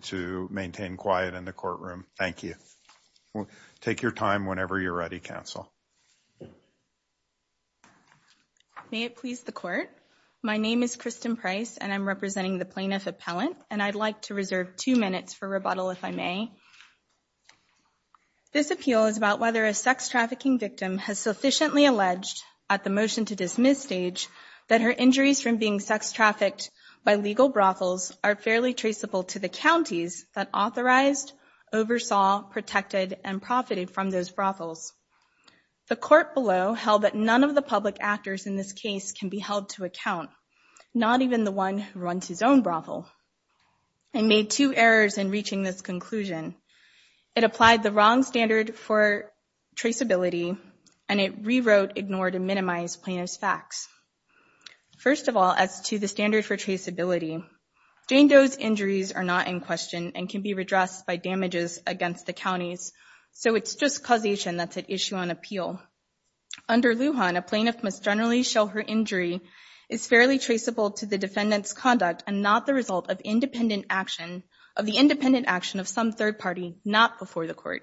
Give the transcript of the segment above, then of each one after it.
to maintain quiet in the courtroom. Thank you. Take your time whenever you're ready, counsel. May it please the court. My name is Kristen Price and I'm representing the plaintiff appellant and I'd like to reserve two minutes for rebuttal if I may. This appeal is about whether a sex trafficking victim has sufficiently alleged at the motion to dismiss stage that her injuries from being sex trafficked by legal brothels are fairly traceable to the counties that authorized, oversaw, protected, and profited from those brothels. The court below held that none of the public actors in this case can be held to account, not even the one who runs his own brothel and made two errors in reaching this conclusion. It applied the wrong standard for traceability and it rewrote, ignored, and minimized plaintiff's facts. First of all, as to the standard for traceability, Jane Doe's injuries are not in question and can be redressed by damages against the counties, so it's just causation that's at issue on appeal. Under Lujan, a plaintiff must generally show her injury is fairly traceable to the defendant's conduct and not the result of independent action of the independent action of some third party, not before the court.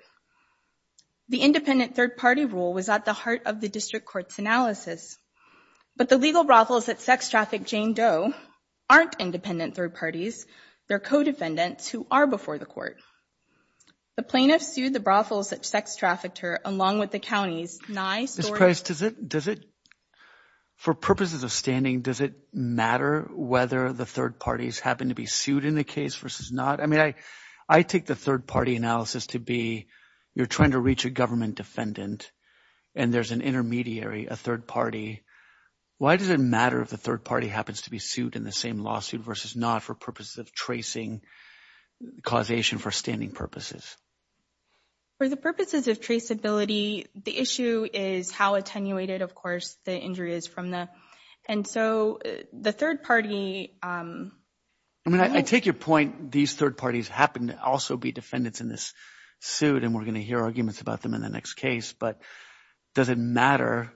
The independent third party rule was at the heart of the district court's analysis, but the legal brothels that sex trafficked Jane Doe aren't independent third parties. They're co-defendants who are before the court. The plaintiffs sued the brothels that sex trafficked her along with the counties. Ms. Price, for purposes of standing, does it matter whether the third parties happen to be sued in the case versus not? I mean, I take the third party analysis to be you're trying to reach a government defendant and there's an intermediary a third party. Why does it matter if the third party happens to be sued in the same lawsuit versus not for purposes of tracing causation for standing purposes? For the purposes of traceability, the issue is how attenuated, of course, the injury is from the and so the third party. I mean, I take your point. These third parties happen to also be defendants in this suit and we're going to hear arguments about them in the next case, but does it matter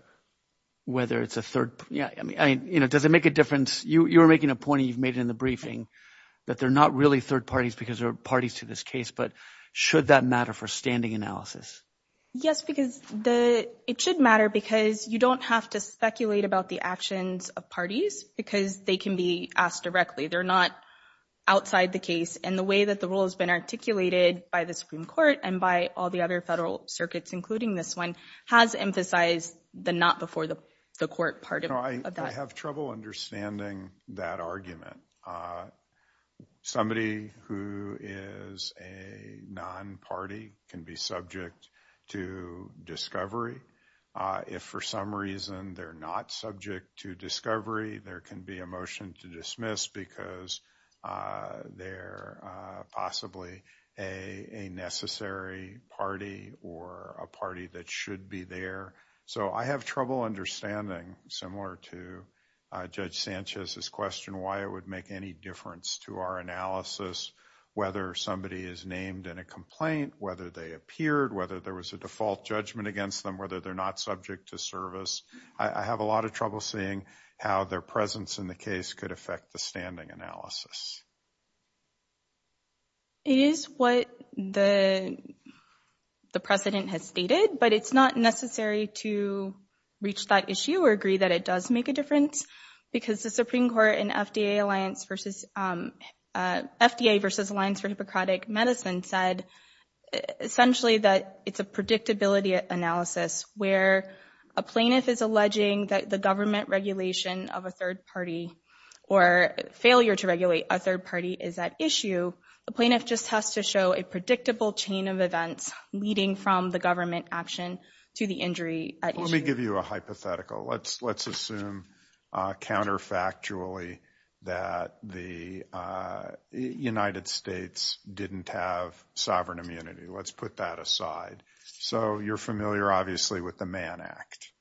whether it's a third? Yeah, I mean, you know, does it make a difference? You were making a point you've made in the briefing that they're not really third parties because they're parties to this case. But should that matter for standing analysis? Yes, because the it should matter because you don't have to speculate about the actions of parties because they can be asked directly. They're not outside the case. And the way that the rule has been articulated by the Supreme Court and by all the other federal circuits, including this one, has emphasized the not before the court part of that. I have trouble understanding that argument. Somebody who is a non-party can be subject to discovery. If for some reason they're not subject to discovery, there can be a motion to dismiss because they're possibly a necessary party or a party that should be there. So I have trouble understanding, similar to Judge Sanchez's question, why it would make any difference to our analysis, whether somebody is named in a complaint, whether they appeared, whether there was a default judgment against them, whether they're not subject to service. I have a lot of trouble seeing how their presence in the case could affect the standing analysis. It is what the precedent has stated, but it's not necessary to reach that issue or agree that it does make a difference because the Supreme Court and FDA alliance versus FDA versus Alliance for Hippocratic Medicine said essentially that it's a predictability analysis where a plaintiff is alleging that the government regulation of a third party or failure to regulate a third party is at issue. The plaintiff just has to show a predictable chain of events leading from the government action to the injury. Let me give you a hypothetical. Let's assume counterfactually that the United States didn't have sovereign immunity. Let's put that aside. So you're familiar obviously with the Mann Act.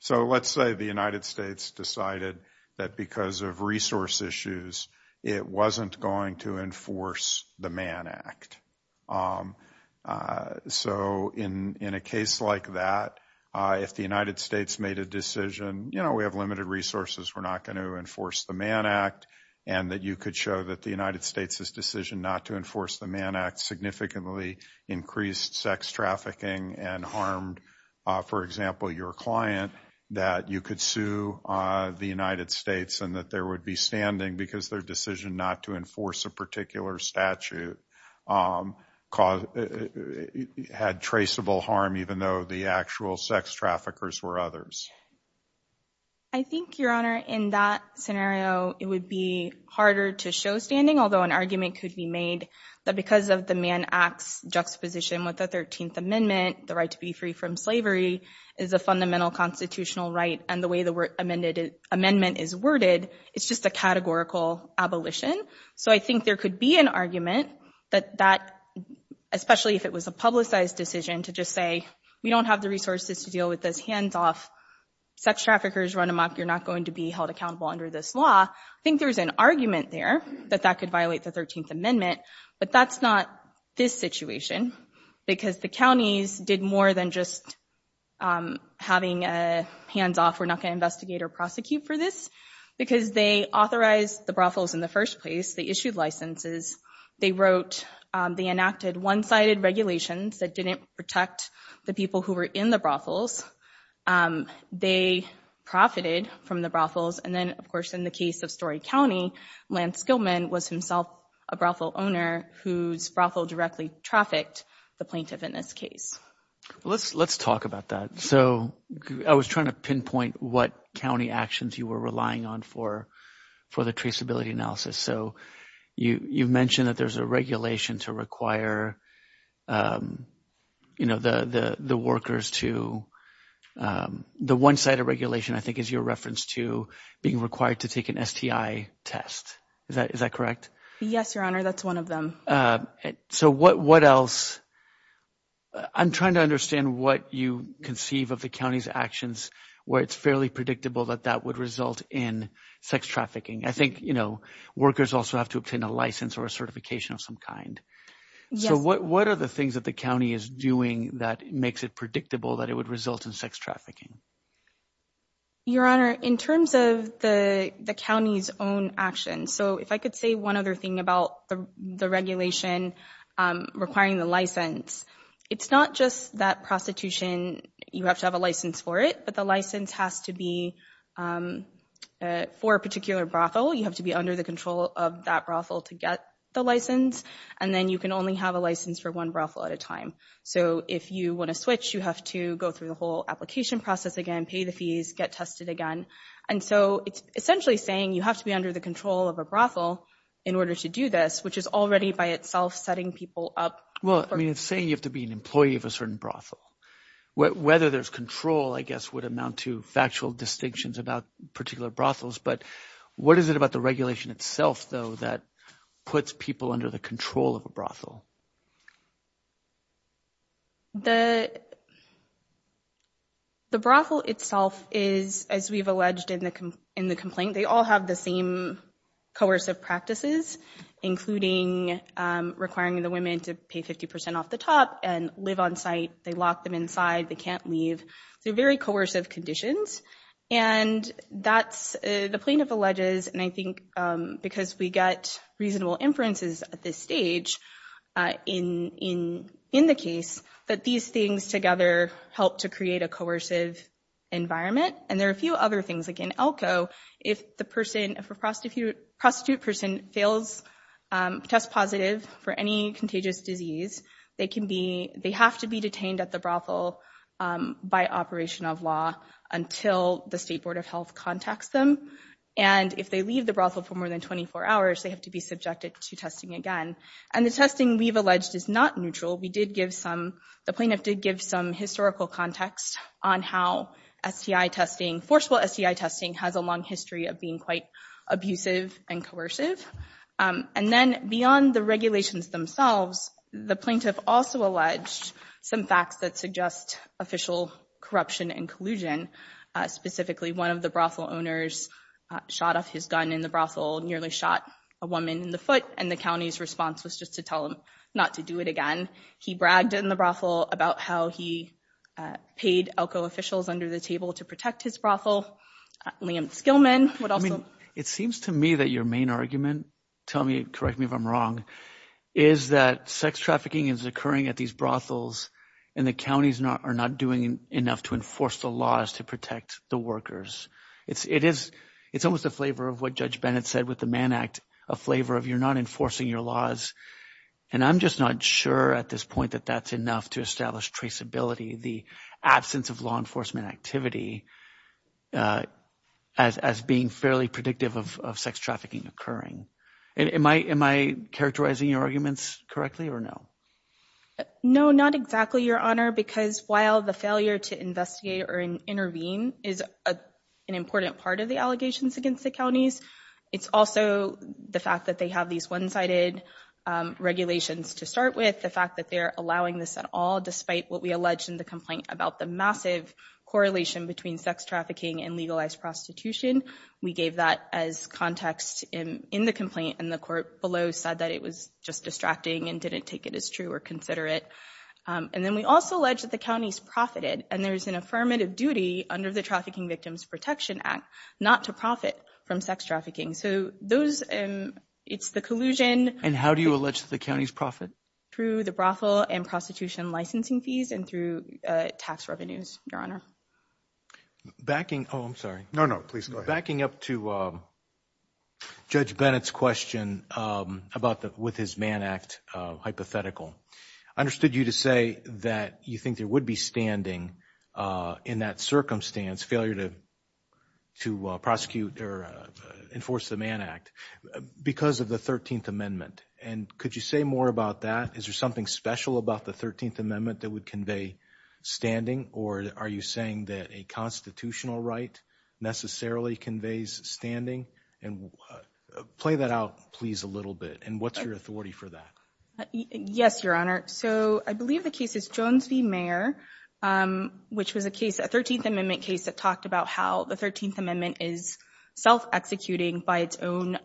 So let's say the United States decided that because of resource issues, it wasn't going to enforce the Mann Act. So in a case like that, if the United States made a decision, you know, we have limited resources, we're not going to enforce the Mann Act, and that you could show that the United States' decision not to enforce the Mann Act significantly increased sex trafficking and harmed, for example, your client, that you could sue the United States and that there would be standing because their decision not to enforce a particular statute had traceable harm even though the actual sex traffickers were others. I think, Your Honor, in that scenario, it would be harder to show standing, although an argument could be made that because of the Mann Act's juxtaposition with the 13th Amendment, the right to be free from slavery is a fundamental constitutional right, and the way the amendment is worded, it's just a categorical abolition. So I think there could be an argument that that, especially if it was a publicized decision, to just say, we don't have the resources to deal with this hands-off, sex traffickers run amok, you're not going to be held accountable under this law. I think there's an argument there that that could violate the 13th Amendment, but that's not this situation, because the counties did more than just having a hands-off, we're not going to investigate or prosecute for this, because they authorized the brothels in the first place, they issued licenses, they wrote, they enacted one-sided regulations that didn't protect the people who were in the brothels, they profited from the brothels, and then of course in the case of Story County, Lance Gilman was himself a brothel owner whose brothel directly trafficked the plaintiff in this case. Let's talk about that. So I was trying to pinpoint what county actions you were relying on for the traceability analysis. So you've mentioned that there's a regulation to require, you know, the workers to, the one-sided regulation I think is your reference to being required to take an STI test, is that correct? Yes, your honor, that's one of them. So what else, I'm trying to understand what you conceive of the county's actions where it's fairly predictable that that would result in sex trafficking. I think, you know, workers also have to obtain a license or a certification of some So what are the things that the county is doing that makes it predictable that it would result in sex trafficking? Your honor, in terms of the county's own actions, so if I could say one other thing about the regulation requiring the license, it's not just that prostitution, you have to have a license for it, but the license has to be for a particular brothel, you have to be under the control of that brothel to get the license, and then you can only have a license for one brothel at a time. So if you want to switch, you have to go through the whole application process again, pay the fees, get tested again, and so it's essentially saying you have to be under the control of a brothel in order to do this, which is already by itself setting people up. Well, I mean, it's saying you have to be an employee of a certain brothel. Whether there's control, I guess, would amount to factual distinctions about particular brothels, but what is it about the regulation itself, though, that puts people under the control of a brothel? The brothel itself is, as we've alleged in the complaint, they all have the same coercive practices, including requiring the women to pay 50% off the top and live on site, they lock them inside, they can't leave, they're very coercive conditions, and that's the plaintiff alleges, and I think because we get reasonable inferences at this stage in the case, that these things together help to create a coercive environment, and there are a few other things, like in Elko, if the person, if a prostitute person fails, tests positive for any contagious disease, they can be, they have to be detained at the brothel by operation of law until the State Board of Health contacts them, and if they leave the brothel for more than 24 hours, they have to be subjected to testing again, and the testing we've alleged is not neutral, we did give some, the plaintiff did give some historical context on how STI testing, forceful STI testing, has a long history of being quite abusive and coercive, and then beyond the regulations themselves, the plaintiff also alleged some facts that suggest official corruption and collusion, specifically one of the brothel owners shot off his gun in the brothel, nearly shot a woman in the foot, and the county's response was just to tell him not to do it again, he bragged in the brothel about how he paid Elko officials under the table to protect his brothel, Liam Skillman would also- I mean, it seems to me that your main argument, tell me, correct me if I'm wrong, is that sex trafficking is occurring at these brothels, and the counties are not doing enough to enforce the laws to protect the workers, it's, it is, it's almost a flavor of what Judge Bennett said with the Mann Act, a flavor of you're not enforcing your laws, and I'm just not sure at this point that that's enough to establish traceability, the absence of law enforcement activity as being fairly predictive of sex trafficking occurring. Am I characterizing your arguments correctly or no? No, not exactly, Your Honor, because while the failure to investigate or intervene is an important part of the allegations against the counties, it's also the fact that they have these one-sided regulations to start with, the fact that they're allowing this at all despite what we allege in the complaint about the massive correlation between sex trafficking and legalized prostitution, we gave that as context in, in the complaint, and the court below said that it was just distracting and didn't take it as true or considerate, and then we also allege that the counties profited, and there's an affirmative duty under the Trafficking Victims Protection Act not to profit from sex trafficking, so those, it's the collusion. And how do you allege the county's profit? Through the brothel and prostitution licensing fees and through tax revenues, Your Honor. Backing, oh, I'm sorry. No, no, please go ahead. Backing up to Judge Bennett's question about the, with his Mann Act hypothetical, I understood you to say that you think there would be standing in that circumstance, failure to, to prosecute or enforce the Mann Act because of the 13th Amendment, and could you say more about that? Is there something special about the 13th Amendment that would convey standing, or are you saying that a constitutional right necessarily conveys standing? And play that out, please, a little bit, and what's authority for that? Yes, Your Honor. So I believe the case is Jones v. Mayer, which was a case, a 13th Amendment case that talked about how the 13th Amendment is self-executing by its own,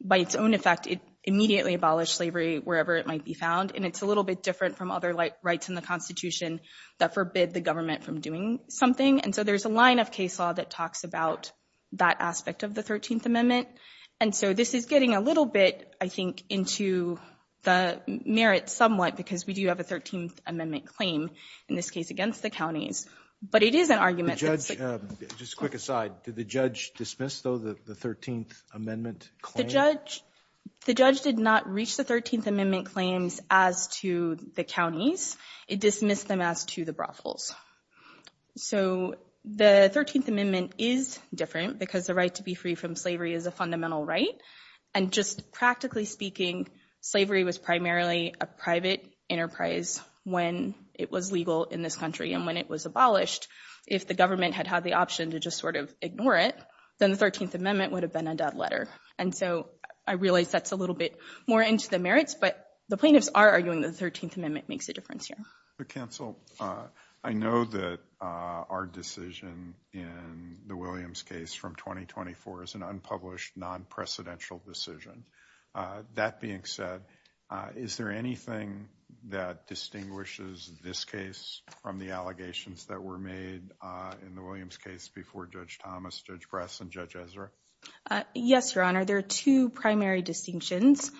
by its own effect. It immediately abolished slavery wherever it might be found, and it's a little bit different from other rights in the Constitution that forbid the government from doing something, and so there's a line of case law that talks about that aspect of the 13th Amendment, and so this is getting a little bit, I think, into the merits somewhat because we do have a 13th Amendment claim in this case against the counties, but it is an argument. Judge, just a quick aside, did the judge dismiss, though, the 13th Amendment claim? The judge, the judge did not reach the 13th Amendment claims as to the counties. It dismissed them as to the brothels. So the 13th Amendment is different because the right to be free from slavery is a fundamental right, and just practically speaking, slavery was primarily a private enterprise when it was legal in this country, and when it was abolished, if the government had had the option to just sort of ignore it, then the 13th Amendment would have been a dead letter, and so I realize that's a little bit more into the merits, but the plaintiffs are arguing the 13th Amendment makes a difference here. But counsel, I know that our decision in the Williams case from 2024 is an unpublished, non-precedential decision. That being said, is there anything that distinguishes this case from the allegations that were made in the Williams case before Judge Thomas, Judge Bress, and Judge Ezra? Yes, Your Honor. There are two primary distinctions.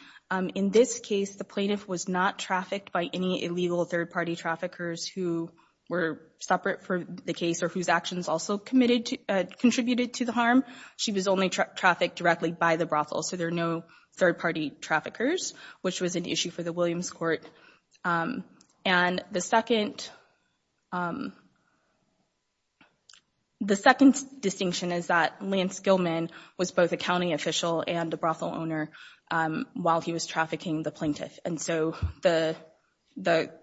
In this case, the plaintiff was not trafficked by any illegal third-party traffickers who were separate from the case or whose actions also contributed to the harm. She was only trafficked directly by the brothel, so there are no third-party traffickers, which was an issue for the Williams court. And the second distinction is that Lance Gilman was both a county official and a brothel owner while he was trafficking the plaintiff, and so the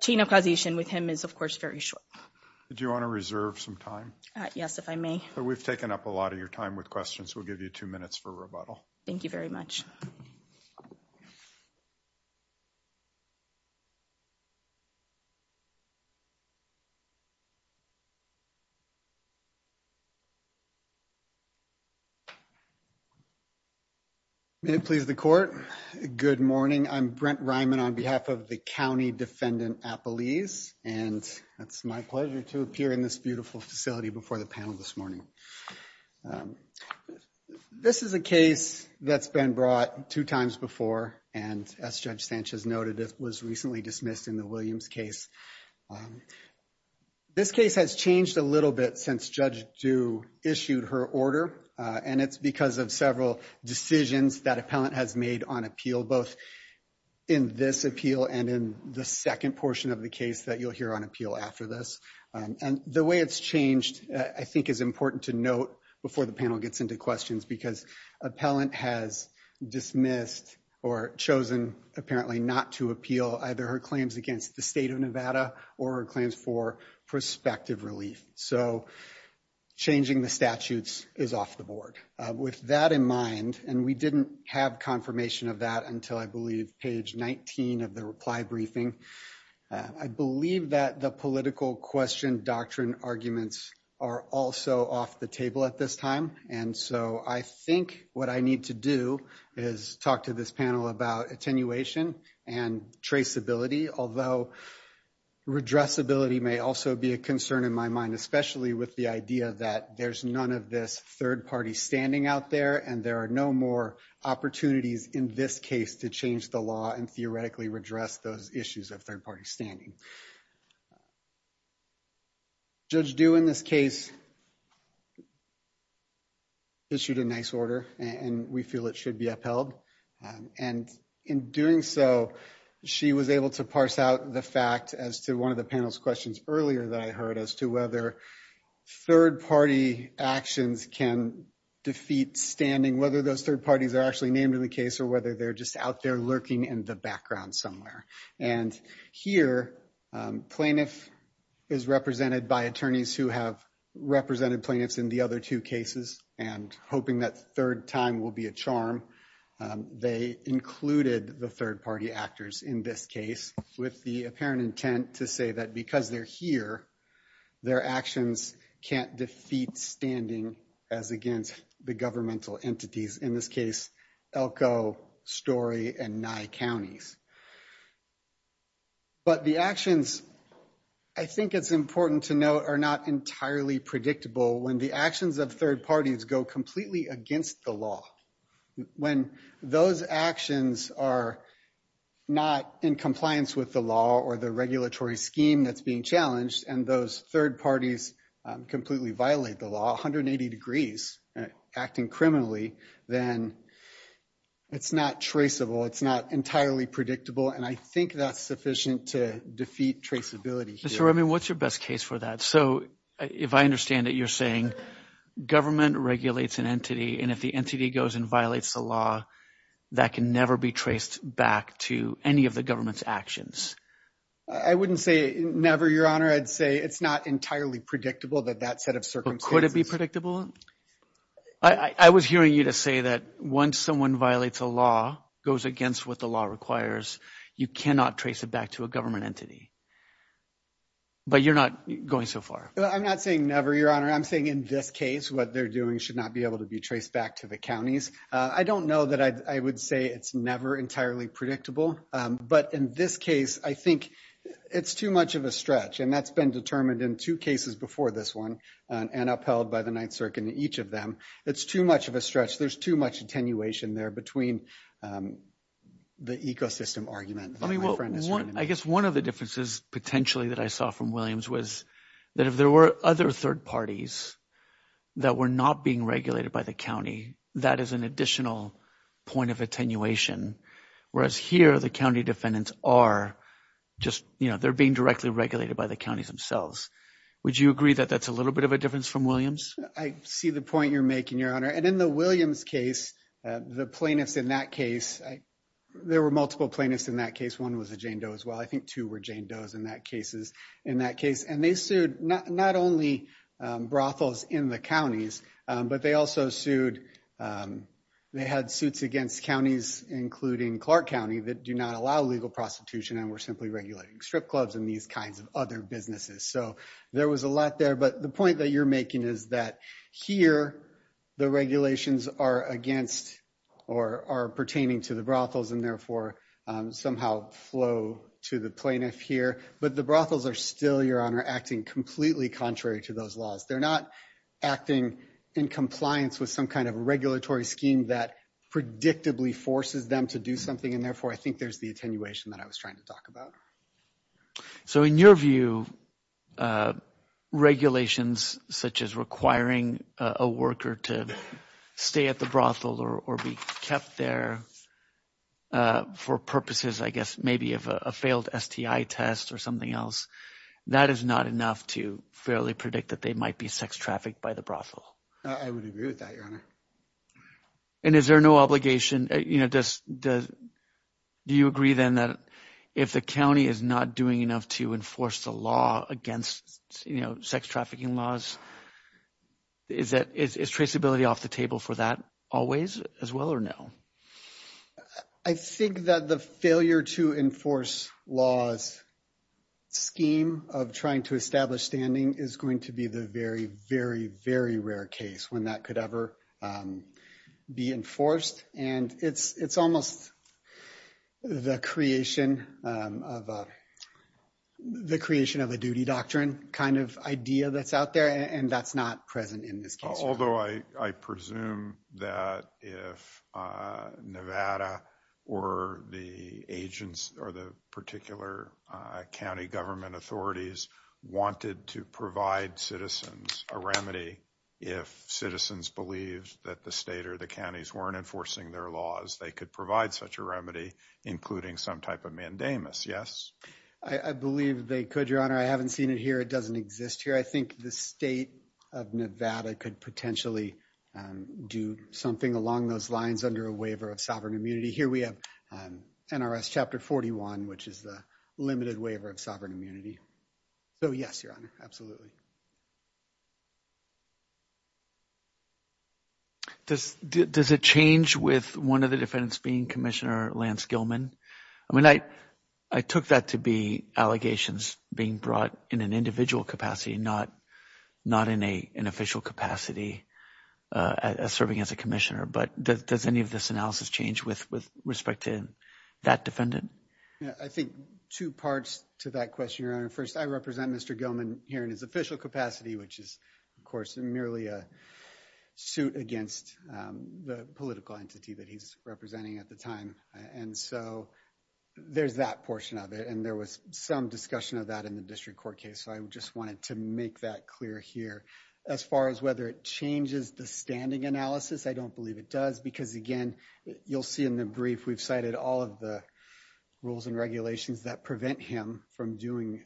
chain of causation with him is, of course, very short. Do you want to reserve some time? Yes, if I may. We've taken up a lot of your time with questions. We'll give you two minutes for rebuttal. Thank you very much. May it please the court, good morning. I'm Brent Ryman on behalf of the County Defendant Appellees, and it's my pleasure to appear in this beautiful facility before the panel this morning. This is a case that's been brought two times before, and as Judge Sanchez noted, it was recently dismissed in the Williams case. This case has changed a little bit since Judge Dew issued her order, and it's because of several decisions that appellant has made on appeal, both in this appeal and in the second portion of the case that you'll hear on appeal after this. And the way it's changed, I think, is important to note before the panel gets into questions, because appellant has dismissed or chosen, apparently, not to appeal either her claims against the state of Nevada or her claims for prospective relief. So changing the statutes is off the board. With that in mind, and we didn't have confirmation of that until I believe page 19 of the reply briefing, I believe that the political question doctrine arguments are also off the table at this time. And so I think what I need to do is talk to this panel about attenuation and traceability, although redressability may also be a concern in my mind, especially with the idea that there's none of this third party standing out there, and there are no more opportunities in this case to change the law and theoretically redress those issues of third party standing. Judge Dew in this case issued a nice order, and we feel it should be upheld. And in doing so, she was able to parse out the fact as to one of the panel's questions earlier that I heard as to whether third party actions can defeat standing, whether those third parties are actually named in the case or whether they're just out there lurking in the background somewhere. And here, plaintiff is represented by attorneys who have represented plaintiffs in the other two cases and hoping that third time will be a charm. They included the third party actors in this case with the apparent intent to say that because they're here, their actions can't defeat standing as against the governmental entities, in this case, Elko, Story, and Nye Counties. But the actions, I think it's important to note, are not entirely predictable when the actions of parties go completely against the law. When those actions are not in compliance with the law or the regulatory scheme that's being challenged, and those third parties completely violate the law 180 degrees, acting criminally, then it's not traceable, it's not entirely predictable, and I think that's sufficient to defeat traceability. Mr. Remien, what's your best case for that? So an entity, and if the entity goes and violates the law, that can never be traced back to any of the government's actions. I wouldn't say never, Your Honor. I'd say it's not entirely predictable that that set of circumstances. But could it be predictable? I was hearing you to say that once someone violates a law, goes against what the law requires, you cannot trace it back to a government entity. But you're not going so far. I'm not saying never, Your Honor. I'm saying in this case, what they're doing should not be able to be traced back to the counties. I don't know that I would say it's never entirely predictable. But in this case, I think it's too much of a stretch, and that's been determined in two cases before this one, and upheld by the Ninth Circuit in each of them. It's too much of a stretch. There's too much attenuation there between the ecosystem argument. I guess one of the differences potentially that I saw from Williams was that if there were other third parties that were not being regulated by the county, that is an additional point of attenuation. Whereas here, the county defendants are just, you know, they're being directly regulated by the counties themselves. Would you agree that that's a little bit of a difference from Williams? I see the point you're making, Your Honor. And in the Williams case, the plaintiffs in that case, there were multiple plaintiffs in that case. One was a Jane Doe as well. I think two were Jane Doe's in that case. And they sued not only brothels in the counties, but they also sued, they had suits against counties, including Clark County, that do not allow legal prostitution and were simply regulating strip clubs and these kinds of other businesses. So there was a lot there. But the point that you're making is that here, the regulations are against or are pertaining to the brothels and therefore somehow flow to the plaintiff here. But the brothels are still, Your Honor, acting completely contrary to those laws. They're not acting in compliance with some kind of regulatory scheme that predictably forces them to do something. And therefore, I think there's the attenuation that I was trying to talk about. So in your view, regulations such as requiring a worker to stay at the brothel or be kept there for purposes, I guess, maybe of a failed STI test or something else, that is not enough to fairly predict that they might be sex trafficked by the brothel. I would agree with that, Your Honor. And is there no obligation? Do you agree then that if the county is not doing enough to enforce the law against sex trafficking laws, is traceability off the table for that always as well or no? I think that the failure to enforce laws scheme of trying to establish standing is going to be the very, very, very rare case when that could ever be enforced. And it's almost the creation of a duty doctrine kind of idea that's out there and that's not present in this case. Although I presume that if Nevada or the agents or the particular county government authorities wanted to provide citizens a remedy, if citizens believed that the state or the counties weren't enforcing their laws, they could provide such a remedy, including some type of mandamus. Yes? I believe they could, Your Honor. I haven't seen it here. It doesn't exist here. I think the state of Nevada could potentially do something along those lines under a waiver of sovereign immunity. Here we have NRS Chapter 41, which is the limited waiver of sovereign immunity. So, yes, Your Honor. Absolutely. Does it change with one of the defendants being Commissioner Lance Gilman? I mean, I took that to be allegations being brought in an individual capacity, not in an official capacity serving as a commissioner. But does any of this analysis change with respect to that defendant? I think two parts to that question, Your Honor. First, I represent Mr. Gilman here in his official capacity, which is, of course, merely a suit against the political entity that he's representing at the time. And so there's that portion of it. And there was some discussion of that in the district court case. So I just wanted to make that clear here. As far as whether it changes the standing analysis, I don't believe it does. Because, again, you'll see in the brief, we've cited all of the rules and regulations that prevent him from doing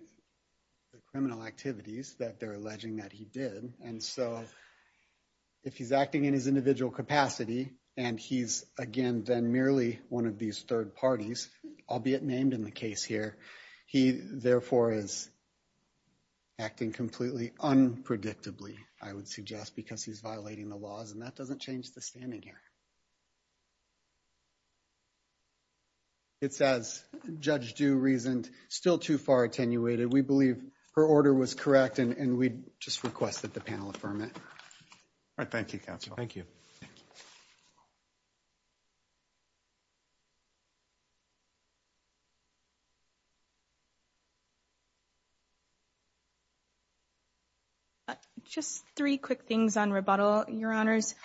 the criminal activities that they're alleging that he did. And so if he's acting in his individual capacity, and he's, again, then merely one of these third parties, albeit named in the case here, he therefore is acting completely unpredictably, I would suggest, because he's violating the laws. And that doesn't It's, as Judge Dew reasoned, still too far attenuated. We believe her order was correct, and we just request that the panel affirm it. All right. Thank you, counsel. Thank you. Just three quick things on rebuttal, Your Honors.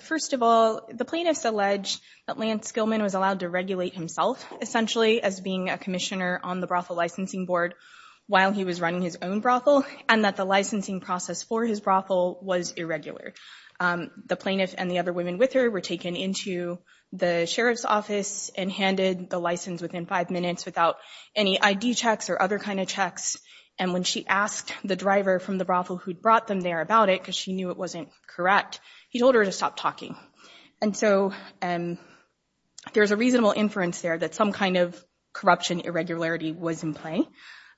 First of all, the plaintiffs allege that Lance Gillman was allowed to regulate himself, essentially, as being a commissioner on the brothel licensing board while he was running his own brothel, and that the licensing process for his brothel was irregular. The plaintiff and the other women with her were taken into the sheriff's office and handed the license within five minutes without any ID checks or other kind of checks. And when she asked the driver from the brothel who'd brought them there about it, she knew it wasn't correct, he told her to stop talking. And so there's a reasonable inference there that some kind of corruption irregularity was in play.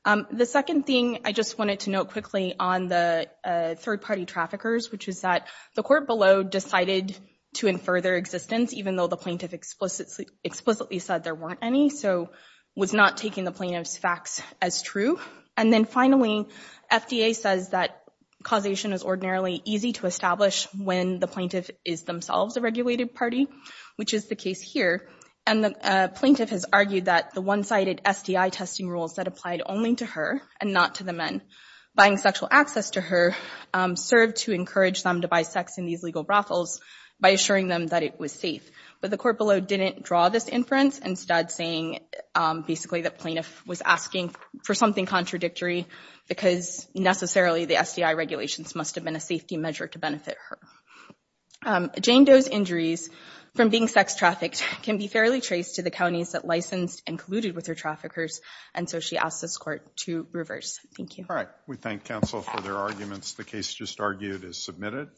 The second thing I just wanted to note quickly on the third-party traffickers, which is that the court below decided to infer their existence, even though the plaintiff explicitly said there weren't any, so was not taking the plaintiff's facts as true. And then finally, FDA says that causation is ordinarily easy to establish when the plaintiff is themselves a regulated party, which is the case here. And the plaintiff has argued that the one-sided SDI testing rules that applied only to her and not to the men buying sexual access to her served to encourage them to buy sex in these legal brothels by assuring them that it was safe. But the court below didn't draw this inference instead saying basically the plaintiff was asking for something contradictory because necessarily the SDI regulations must have been a safety measure to benefit her. Jane Doe's injuries from being sex trafficked can be fairly traced to the counties that licensed and colluded with her traffickers, and so she asked this court to reverse. Thank you. All right, we thank counsel for their arguments. The case just argued is submitted.